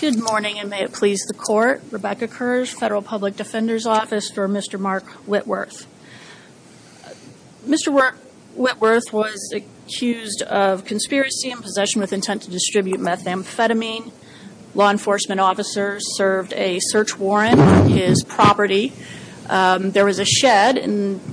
Good morning and may it please the court. Rebecca Kurz, Federal Public Defender's Office for Mr. Mark Whitworth. Mr. Whitworth was accused of conspiracy and possession with intent to distribute methamphetamine. Law enforcement officers served a search warrant on his property. There was a shed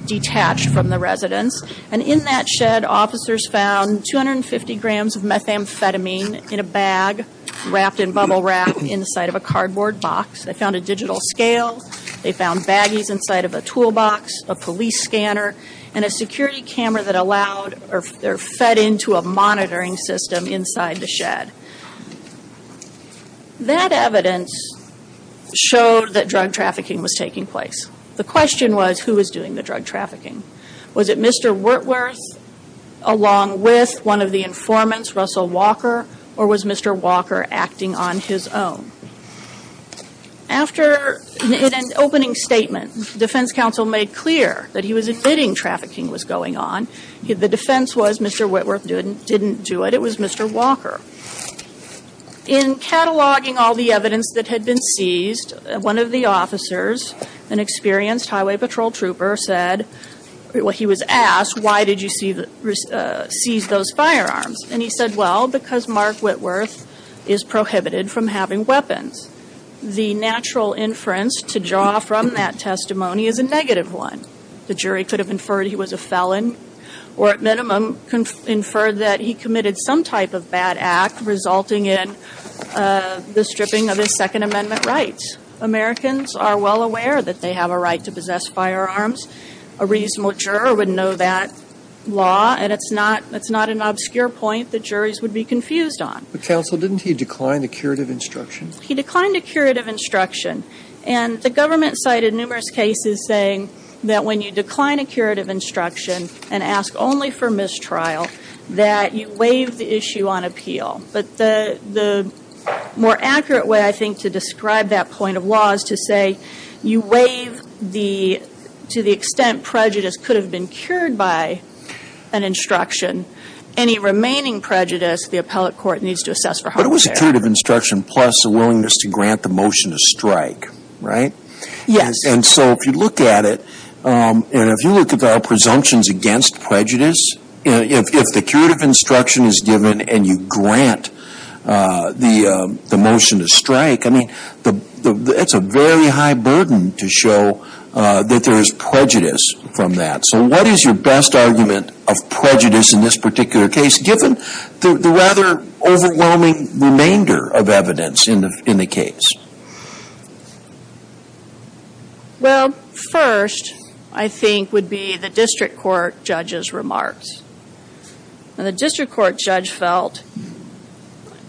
detached from the residence and in that shed officers found 250 grams of methamphetamine in a bag wrapped in bubble wrap inside of a cardboard box. They found a digital scale. They found baggies inside of a toolbox, a police scanner and a security camera that allowed or fed into a monitoring system inside the shed. That evidence showed that drug trafficking was taking place. The question was who was doing the drug trafficking. Was it Mr. Whitworth along with one of the informants, Russell Walker, or was Mr. Walker acting on his own? After an opening statement, defense counsel made clear that he was admitting trafficking was going on. The defense was Mr. Whitworth didn't do it. It was Mr. Walker. In cataloging all the evidence that had been seized, one of the officers, an experienced highway patrol trooper said, he was asked, why did you seize those firearms? And he said, well, because Mark Whitworth is prohibited from having weapons. The natural inference to draw from that testimony is a negative one. The jury could have inferred he was a felon or at minimum inferred that he committed some type of bad act resulting in the stripping of his Second Amendment rights. Americans are well aware that they have a right to possess firearms. A reasonable juror would know that law, and it's not an obscure point that juries would be confused on. But counsel, didn't he decline the curative instruction? He declined a curative instruction. And the government cited numerous cases saying that when you decline a curative instruction and ask only for mistrial, that you waive the issue on appeal. But the more accurate way, I think, to describe that point of law is to say, you waive the, to the extent prejudice could have been cured by an instruction. Any remaining prejudice, the appellate court needs to assess for harm. But it was a curative instruction plus a willingness to grant the motion to strike, right? Yes. And so if you look at it, and if you look at our presumptions against prejudice, if the curative instruction is given and you grant the motion to strike, I mean, it's a very high burden to show that there is prejudice from that. So what is your best argument of prejudice in this particular case, given the rather overwhelming remainder of evidence in the case? Well, first, I think, would be the district court judge's remarks. And the district court judge felt,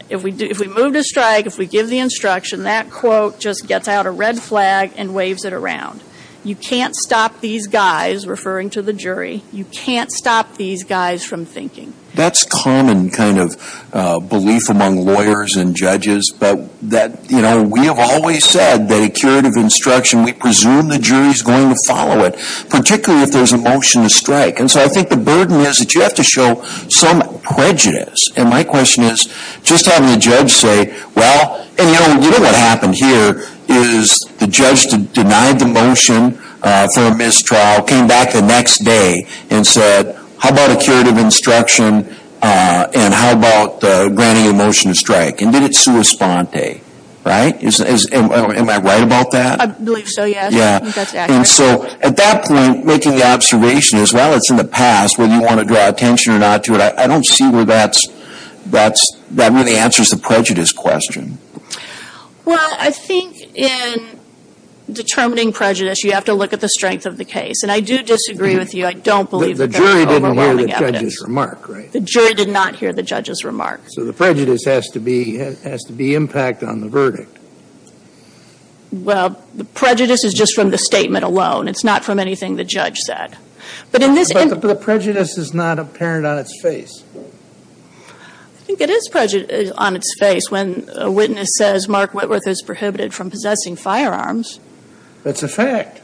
if we move to strike, if we give the instruction, that quote just gets out a red flag and waves it around. You can't stop these guys, referring to the jury, you can't stop these guys from thinking. And that's common kind of belief among lawyers and judges. But that, you know, we have always said that a curative instruction, we presume the jury's going to follow it, particularly if there's a motion to strike. And so I think the burden is that you have to show some prejudice. And my question is, just having the judge say, well, and you know what happened here is the judge denied the motion for a mistrial, came back the next day and said, how about a curative instruction and how about granting a motion to strike? And did it sua sponte? Right? Am I right about that? I believe so, yes. Yeah. I think that's accurate. And so, at that point, making the observation is, well, it's in the past, whether you want to draw attention or not to it, I don't see where that's, that really answers the prejudice question. Well, I think in determining prejudice, you have to look at the strength of the case. And I do disagree with you. I don't believe that they're overwhelming evidence. But you did not hear the judge's remark, right? The jury did not hear the judge's remark. So the prejudice has to be, has to be impact on the verdict. Well, the prejudice is just from the statement alone. It's not from anything the judge said. But in this But the prejudice is not apparent on its face. I think it is on its face when a witness says Mark Whitworth is prohibited from possessing firearms. That's a fact.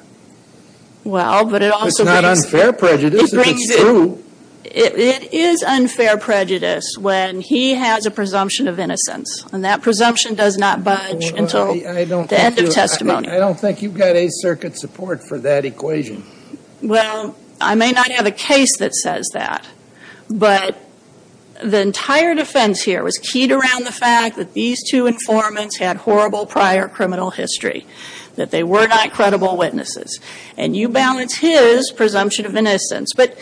Well, but it also brings It's not unfair prejudice if it's true. It is unfair prejudice when he has a presumption of innocence. And that presumption does not budge until the end of testimony. I don't think you've got a circuit support for that equation. Well, I may not have a case that says that. But the entire defense here was keyed around the fact that these two informants had horrible prior criminal history, that they were not credible witnesses. And you balance his presumption of innocence. But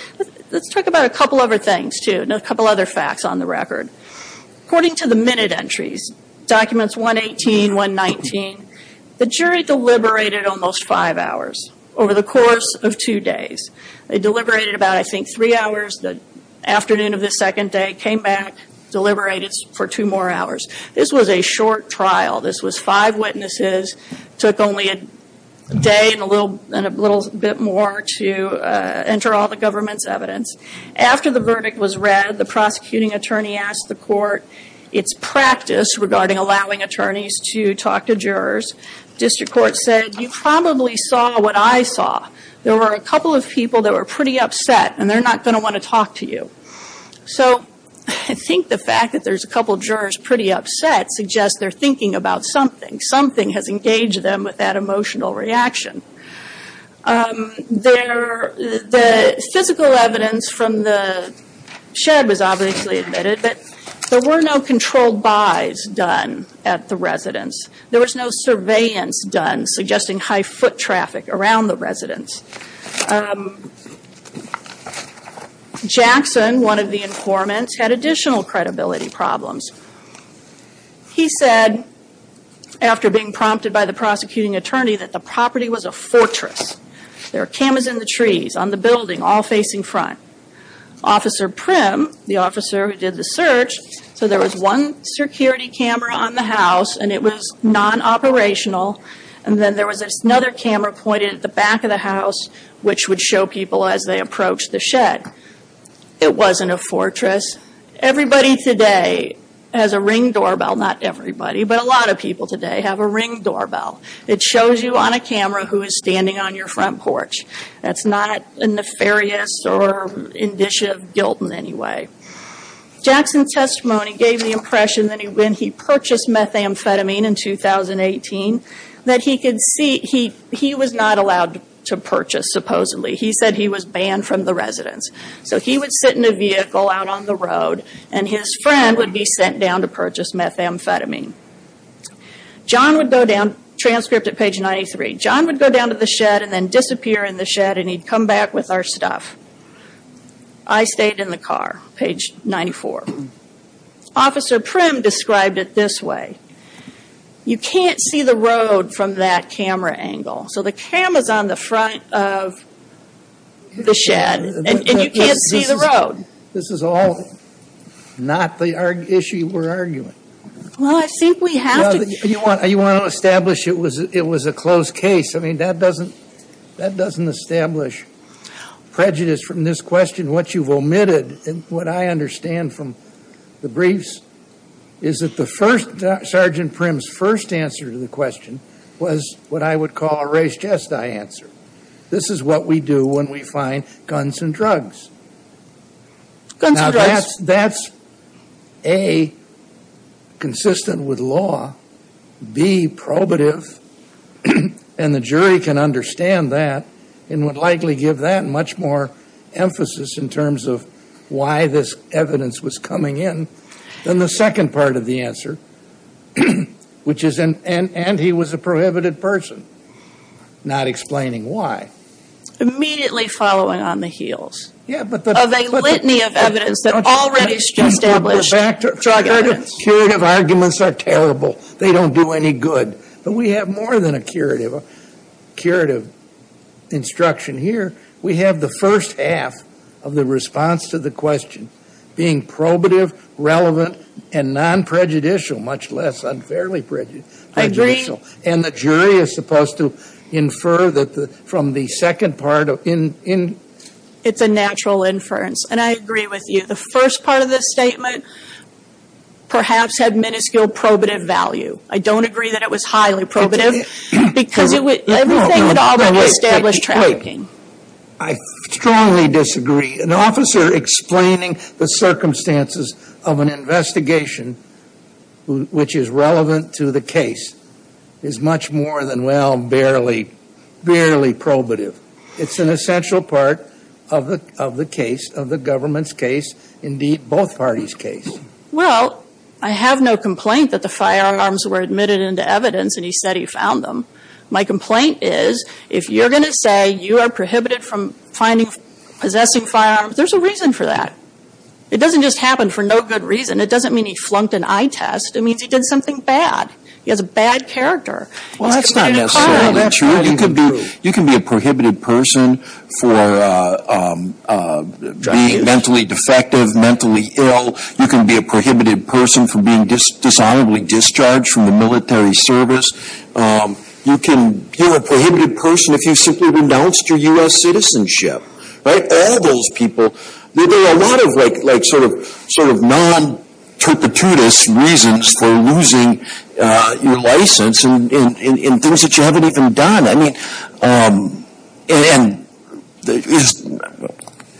let's talk about a couple other things, too. A couple other facts on the record. According to the minute entries, documents 118, 119, the jury deliberated almost five hours over the course of two days. They deliberated about, I think, three hours. The afternoon of the second day came back, deliberated for two more hours. This was a short trial. This was five witnesses, took only a day and a little bit more to enter all the government's evidence. After the verdict was read, the prosecuting attorney asked the court its practice regarding allowing attorneys to talk to jurors. District court said, you probably saw what I saw. There were a couple of people that were pretty upset. And they're not going to want to talk to you. So, I think the fact that there's a couple of jurors pretty upset suggests they're thinking about something. Something has engaged them with that emotional reaction. The physical evidence from the shed was obviously admitted. But there were no controlled by's done at the residence. There was no surveillance done, suggesting high foot traffic around the residence. Jackson, one of the informants, had additional credibility problems. He said, after being prompted by the prosecuting attorney, that the property was a fortress. There were cameras in the trees, on the building, all facing front. Officer Prim, the officer who did the search, said there was one security camera on the house and it was non-operational. And then there was another camera pointed at the back of the house It wasn't a fortress. Everybody today has a ring doorbell. Not everybody, but a lot of people today have a ring doorbell. It shows you on a camera who is standing on your front porch. That's not a nefarious or indicitive guilt in any way. Jackson's testimony gave the impression that when he purchased methamphetamine in 2018, that he was not allowed to purchase, supposedly. He said he was banned from the residence. He would sit in a vehicle out on the road and his friend would be sent down to purchase methamphetamine. John would go down, transcript at page 93. John would go down to the shed and then disappear in the shed and he'd come back with our stuff. I stayed in the car, page 94. Officer Prim described it this way. You can't see the road from that camera angle. The camera is on the front of the shed and you can't see the road. This is all not the issue we're arguing. Well, I think we have to... You want to establish it was a closed case. That doesn't establish prejudice from this question. What you've omitted, what I understand from the briefs, is that Sergeant Prim's first answer to the question was what I would call a race jest I answer. This is what we do when we find guns and drugs. Now, that's A, consistent with law, B, probative, and the jury can understand that and would likely give that much more emphasis in terms of why this evidence was coming in than the second part of the answer, which is, and he was a prohibited person, not explaining why. Immediately following on the heels of a litany of evidence that already established drug evidence. Curative arguments are terrible. They don't do any good. But we have more than a curative instruction here. We have the first half of the response to the question being probative, relevant, and non-prejudicial, much less unfairly prejudicial. I agree. And the jury is supposed to infer from the second part. It's a natural inference. And I agree with you. The first part of the statement perhaps had minuscule probative value. I don't agree that it was highly probative because everything had already established trafficking. I strongly disagree. An officer explaining the circumstances of an investigation which is relevant to the case is much more than, well, barely probative. It's an essential part of the case, of the government's case, indeed both parties' case. Well, I have no complaint that the firearms were admitted into evidence and he said he found them. My complaint is, if you're going to say you are prohibited from finding, possessing firearms, there's a reason for that. It doesn't just happen for no good reason. It doesn't mean he flunked an eye test. It means he did something bad. He has a bad character. Well, that's not necessarily true. You can be a prohibited person for being mentally defective, mentally ill. You can be a prohibited person for being dishonorably discharged from the military service. You can be a prohibited person if you simply renounced your U.S. citizenship. Right? All those people, there are a lot of, like, sort of non-terpitutous reasons for losing your license and things that you haven't even done. I mean, and,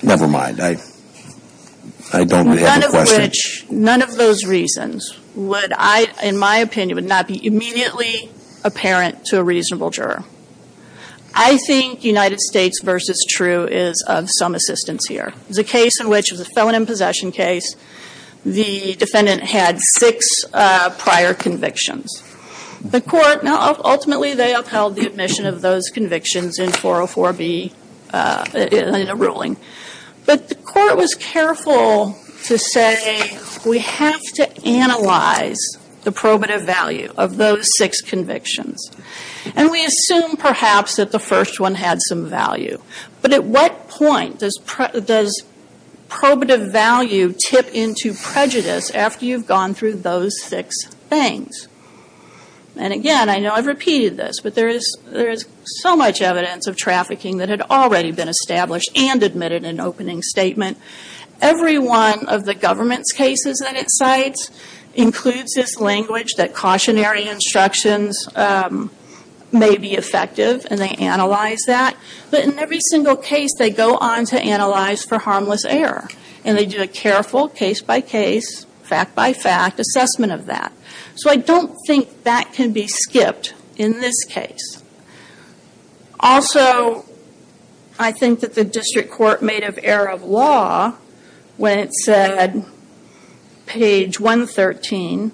never mind. I don't really have a question. None of which, none of those reasons would I, in my opinion, would not be immediately apparent to a reasonable juror. I think United States versus True is of some assistance here. There's a case in which it was a felon in possession case. The defendant had six prior convictions. The court, now ultimately they upheld the admission of those convictions in 404B, in a ruling. But the court was careful to say we have to analyze the probative value of those six convictions. And we assume, perhaps, that the first one had some value. But at what point does probative value tip into prejudice after you've gone through those six things? And again, I know I've repeated this, but there is so much evidence of trafficking that had already been established and admitted in opening statement. Every one of the government's cases that it cites includes this language that cautionary instructions may be effective and they analyze that. But in every single case they go on to analyze for harmless error. And they do a careful case by case, fact by fact, assessment of that. So I don't think that can be skipped in this case. Also, I think that the district court made an error of law when it said page 113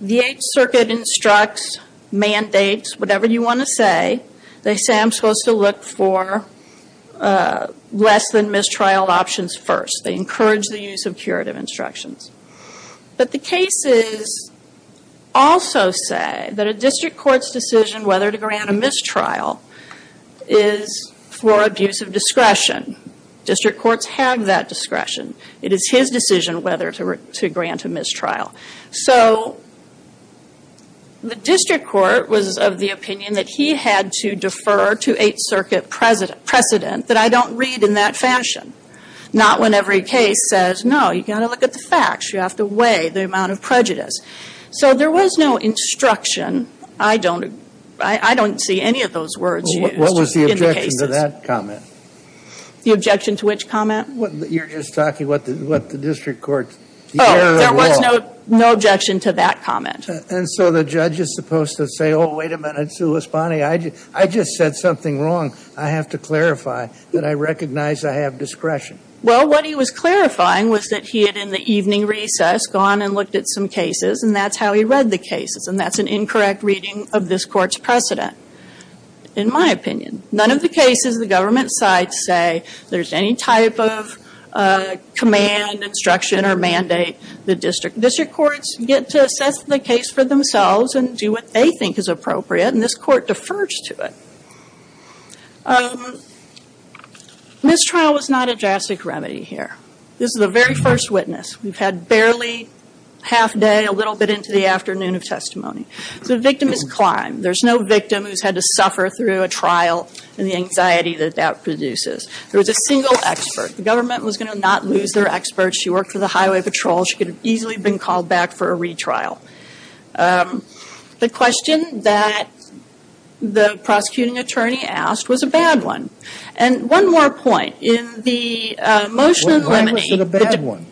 the Eighth Circuit instructs mandates, whatever you want to say, they say I'm supposed to look for less than mistrial options first. They encourage the use of curative instructions. But the cases also say that a district court's decision whether to grant a mistrial is for abuse of discretion. District courts have that discretion. It is his decision whether to grant a mistrial. So the district court was of the opinion that he had to defer to Eighth Circuit precedent that I don't read in that fashion. Not when every case says no, you've got to look at the facts. You have to weigh the amount of prejudice. So there was no instruction I don't see any of those words used in the cases. What was the objection to that comment? The objection to which comment? You're just talking what the district court Oh, there was no objection to that comment. And so the judge is supposed to say oh wait a minute Sue Lisboni I just said something wrong. I have to clarify that I recognize I have discretion. Well what he was clarifying was that he had in the evening recess gone and looked at some cases and that's how he read the cases and that's an incorrect reading of this court's precedent. In my opinion none of the cases the government side say there's any type of command, instruction or mandate the district district courts get to assess the case for themselves and do what they think is appropriate and this court defers to it. This trial was not a drastic remedy here. This is the very first witness. We've had barely half day a little bit into the afternoon of testimony. So the victim is climbed. There's no victim who's had to suffer through a trial and the anxiety that that produces. There was a single expert. The government was going to not lose their experts. She worked for the highway patrol. She could have easily been called back for a retrial. The question that the prosecuting attorney asked was a bad one. And one more point. In the motion in Lemony Why was it a bad one?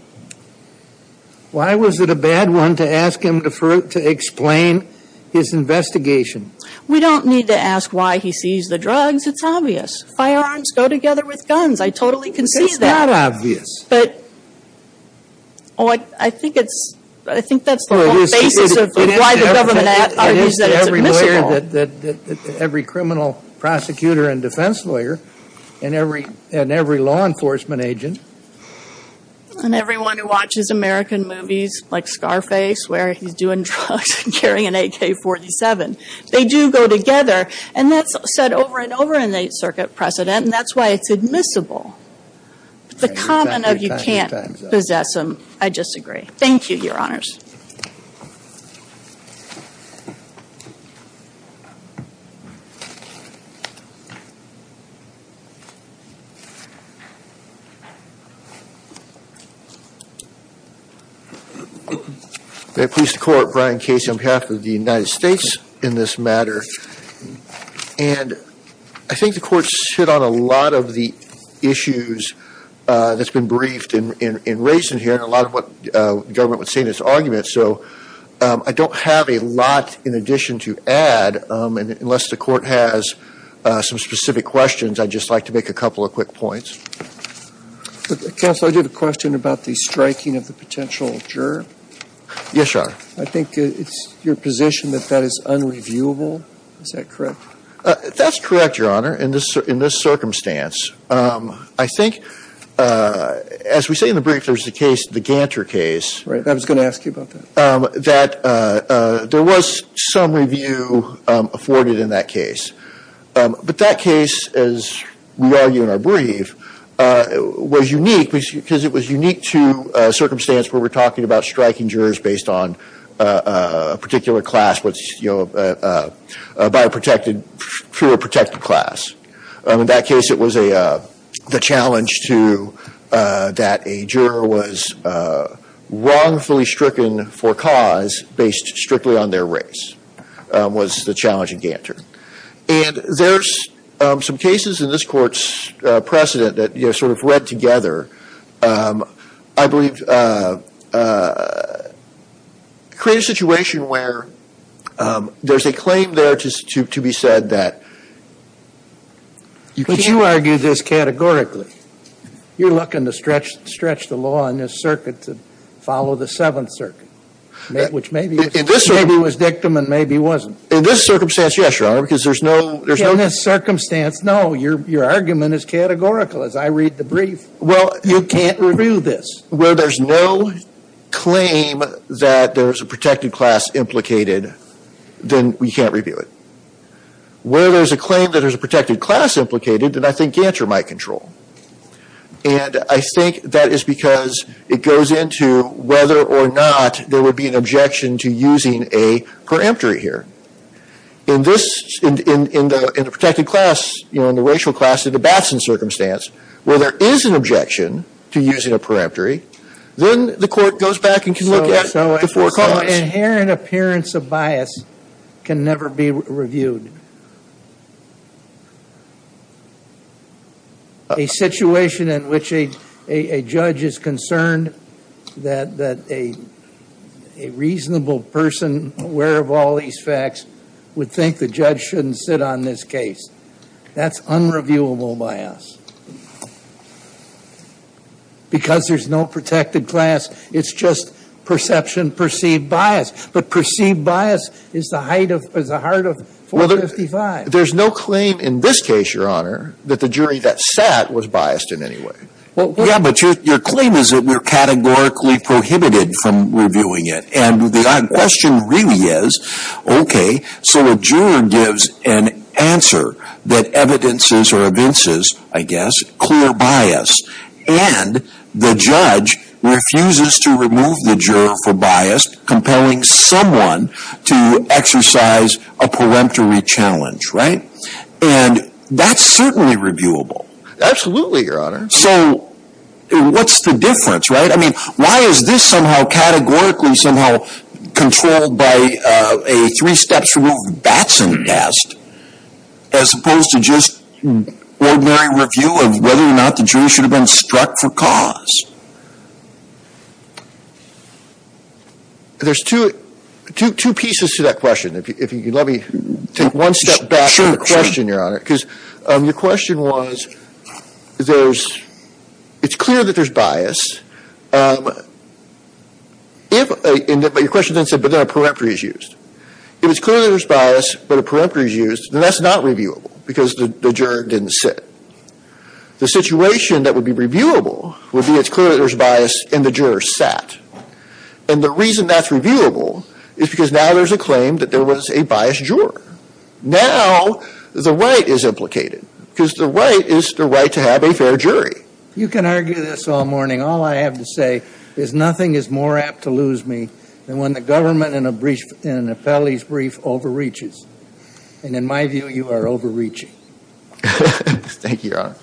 Why was it a bad one to ask him to explain his investigation? We don't need to ask why he seized the drugs. It's obvious. Firearms go together with guns. I totally can see that. It's not obvious. But I think that's the basis of why the government argues that it's admissible. Every criminal prosecutor and defense lawyer and every law enforcement agent and everyone who watches American movies like Scarface where he's doing drugs and carrying an AK-47 they do go together. And that's said over and over in the circuit precedent and that's why it's admissible. But the comment of you can't possess them I disagree. Thank you Your Honors. May it please the Court Brian Case on behalf of the United States in this matter. And I think the Court's hit on a lot of the issues that's been briefed and raised in here and a lot of what the government would say in its arguments. So I don't have a lot in addition to add unless the Court has some specific questions I'd just like to make a couple of quick points. Counsel I did a question about the striking of the potential juror. Yes, Your Honor. I think it's your position that that is unreviewable. Is that correct? That's correct, Your Honor. In this circumstance I think as we say in the brief there's a case, the Ganter case. I was going to ask you about that. That there was some review afforded in that case. But that case as we argue in our brief was unique because it was unique to a circumstance where we're talking about striking jurors based on a particular class by a protected class. In that case it was the challenge to that a juror was wrongfully stricken for cause based strictly on their race was the challenge in Ganter. And there's some cases in this Court's precedent that sort of read together I believe create a situation where there's a claim there to be said that you can't But you argue this categorically. You're arguing that you can't review this where there's no claim that there's a protected class implicated then we can't review it. Where there's a claim that there's a protected class implicated then I think Ganter might control. And I think that is because it goes into whether or not there would be an objection to using a preemptory here. In the class, in the racial class, in the Batson circumstance where there is an objection to using a preemptory then the Court goes back and can look at the four claims. Inherent appearance of bias can never be reviewed. A situation in which a judge is concerned that a reasonable person aware of all these facts would think the judge shouldn't sit on this case. That's unreviewable bias. Because there's no protected class. It's just perception perceived bias. perceived bias is the heart of 455. There's no claim in this case, Your Honor, that the jury that sat was biased in any way. Your claim is that we are biased in any way. There's two pieces to that question. Let me take one step back from the question, Your Honor. Your question was it's clear that there's bias. Your question then said but then a preemptory is used. If it's clear that there's bias, then there's bias in the juror's sat. And the reason that's reviewable is because now there's a claim that there was a biased juror. Now, the right is implicated because the right is the right to have a fair jury. You can argue this all morning. All I have to say is nothing is more apt to lose me than when the government in an appellee's brief overreaches. And in my view, you are overreaching. Thank you, Your Honor.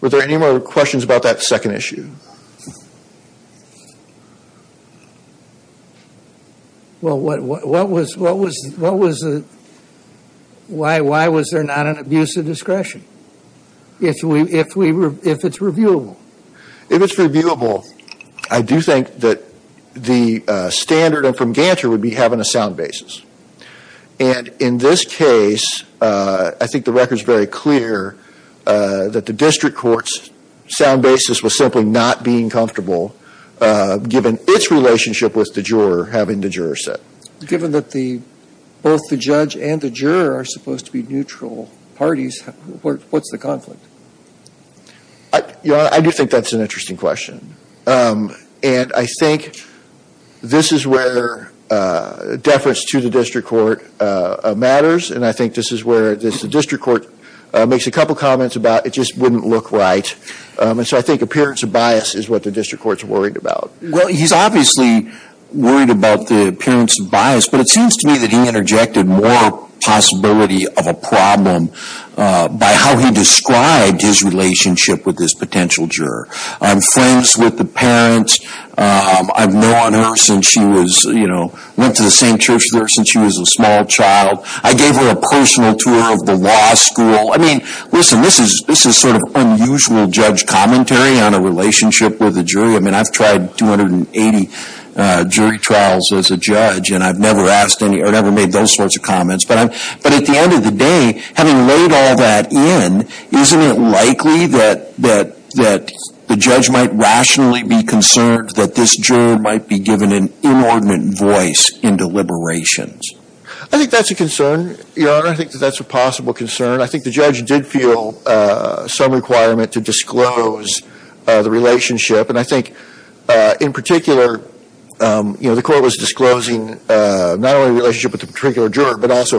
Were there any more questions about that second issue? Well, what was the why was there not an abuse of discretion if it's reviewable? If it's reviewable, I do think that the standard from Ganter would be having a sound basis. And in this case, I think the record is very clear that the district was about the appearance of bias. And I think that the district court was concerned about the appearance of bias. But it seems to me that he interjected more possibility of a problem by how he described his relationship with this potential juror. I'm friends with the parent. I've known her since she was, you know, went to the same church with her since she was a small child. I gave her a personal tour of the law school. I mean, listen, this is sort of unusual judge commentary on a relationship with a jury. I mean, I've tried 280 jury trials as a judge and I've never made those sorts of comments the mother. I think that's a possible concern. I think the judge did feel some requirement to disclose the relationship and I think, in particular, the court was disclosing not only the relationship with the particular judge the why the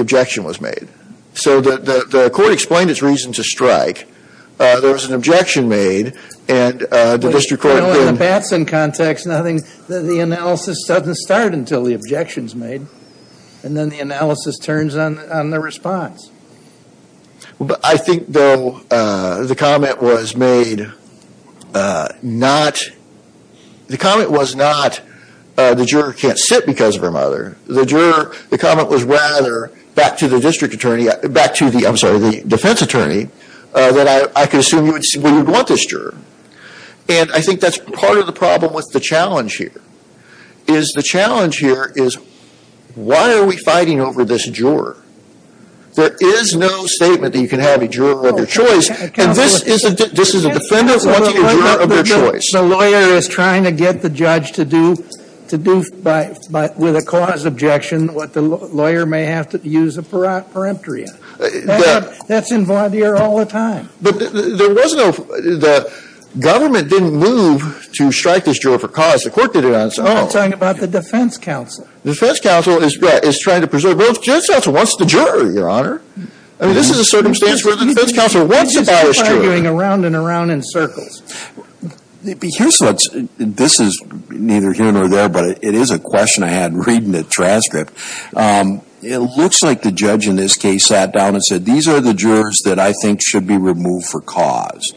objection was made. So, the court explained its reason to strike. There was an objection made and the district court didn't... The analysis doesn't start until the objection is made and then the analysis turns on the response. I think, though, the comment was made not the comment was not the juror can't sit because of her mother. The comment was rather back to the judge. judge said, why are we fighting over this juror. There is no statement you can have a juror of your choice and this is a defendant wanting a juror of their choice. The lawyer is trying to get the judge to do with a cause objection and the defense is trying to preserve both. The defense counsel wants the juror. This is a circumstance where the defense counsel wants the bias juror. This is neither here nor there but it is a question I don't the answer to. It looks like the judge sat down and said these are the jurors that I think should be removed for cause.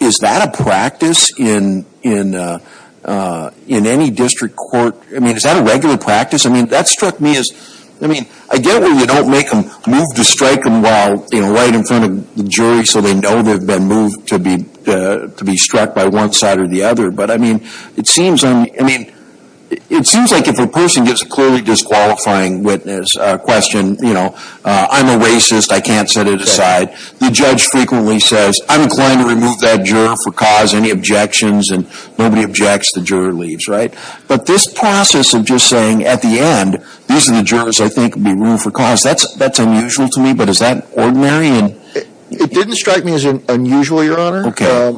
Is that a practice in any district court? Is that a regular practice? I get where you don't make them move to strike them while they're in front of the jury so they know they have been moved to be struck by one side or the other. It seems like if a person gets a clearly disqualifying witness question, I'm a racist, I can't set it aside. The judge frequently says I'm inclined to remove that person jury. Is that an practice? It didn't strike me as unusual, Your Honor.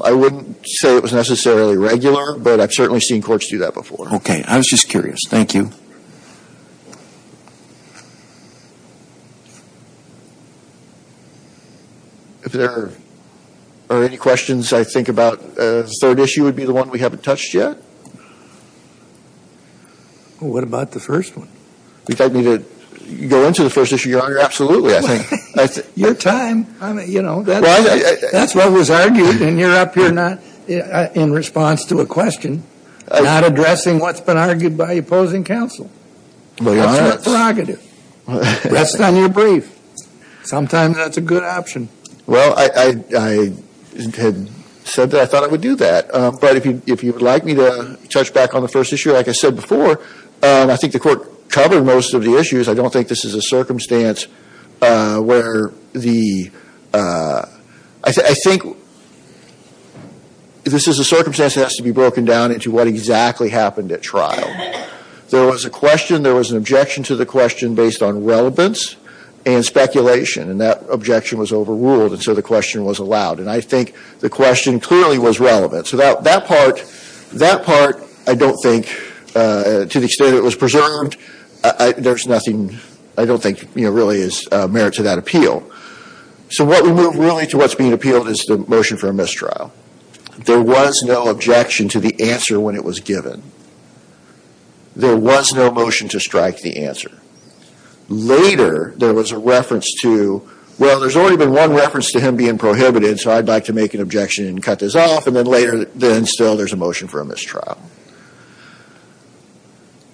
I wouldn't say it was necessarily regular, but I've certainly seen courts do that before. Okay. I was just curious. Thank you. If there are any questions I think about the third issue would be the one we haven't touched yet? What about the first one? You want me to go into the first issue? Absolutely. Your time. That's what was argued and you're up here not in response to a question, not addressing what's been argued by the jury. I don't think this is a circumstance where the I think this is that has to be broken down into what exactly happened at trial. There was a question, there was an objection, there was an objection, there was an objection to the question based on relevance and speculation. That objection was overruled so the question was allowed. I think the question clearly was relevant. That part, I don't think to the extent it was preserved, there's nothing I don't think really is merit to that appeal. So what we move really to what's being appealed is the motion for a mistrial. There was no objection to the answer when it was given. There was no motion to strike the testimony.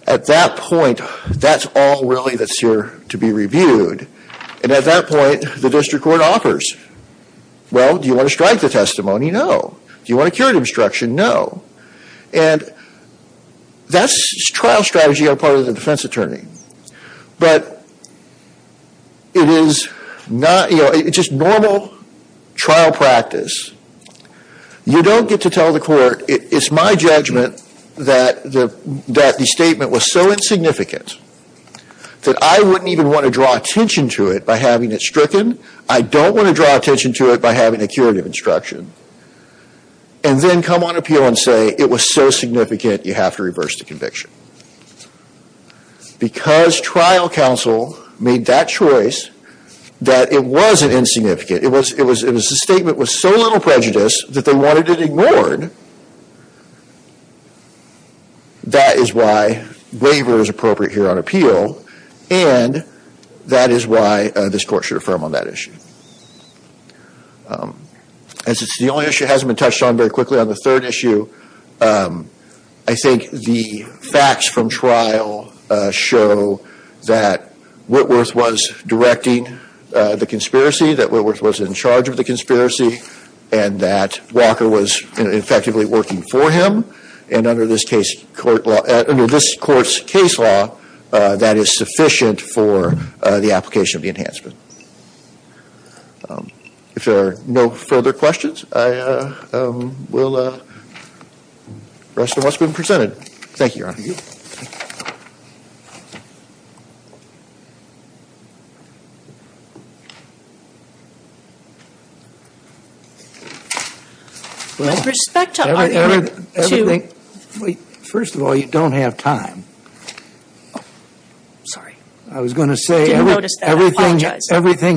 At that point, that's all really that's here to be reviewed. And at that point, the district court offers, well, do you want to strike the testimony? No. Do you want to cure the obstruction? No. And that's trial strategy for the defense attorney. But it is not, it's just normal trial practice. You don't get to tell the court, it's my judgment that the statement was so insignificant that I wouldn't even want to draw attention to it by having it stricken. I don't want to draw attention to it by having a curative instruction and then come on appeal and say it was so significant you have to reverse the conviction. Because trial counsel made that choice that it wasn't insignificant, it was a statement with so little meaning. As it's the only issue that hasn't been touched on very quickly on the third issue, I think the facts from trial show that Whitworth was directing the conspiracy, that Whitworth was in charge of the conspiracy, and that Walker was effectively working for him, and under this court's case law that is sufficient for the application of the enhancement. If there are no further questions, the rest of Thank you, Your Honor. First of all, you don't have time. I don't have time. I don't have time to answer all of your questions.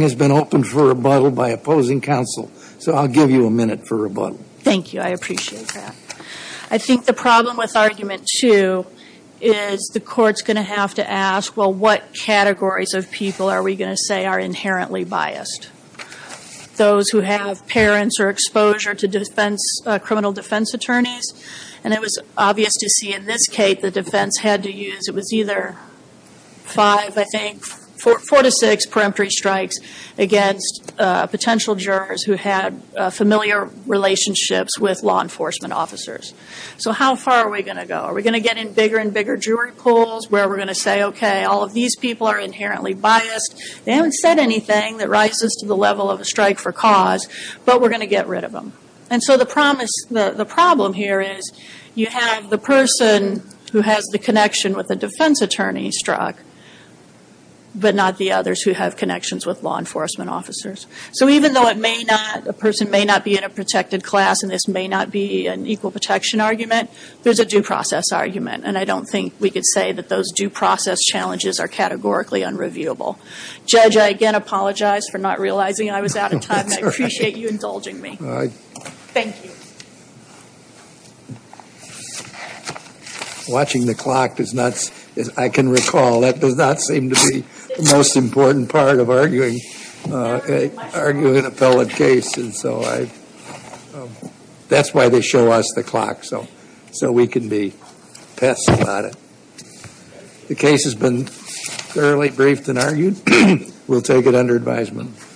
The court's going to have to ask, well, what categories of people are we going to say are inherently biased? Those who have parents or exposure to defense, criminal defense attorneys? And it was obvious to see in this case, the case, it was either five, I think, four to six peremptory strikes against potential jurors who had familiar relationships with law enforcement officers. So how far are we going to go? Are we going to get in bigger and bigger jury polls where we're going to say, okay, all of these people are inherently biased. They haven't said anything that rises to the level of a strike for cause, but we're going to get rid of them. And so the problem here is you have the person who has the connection with the defense attorney struck, but not the others who have connections with law enforcement officers. So even though a person may not be in a protected class and this may not be an equal protection argument, there's a due process argument. And I don't think we could say that those due process challenges are categorically unreviewable. Judge, I again apologize for not realizing I was out of time. I appreciate you indulging me. Thank you. Watching the clock does not, as I can recall, that does not seem to be the most important part of arguing an appellate case. And so that's why they show us the clock so we can be pissed about it. The case has been thoroughly briefed and argued. We'll take it under advisement.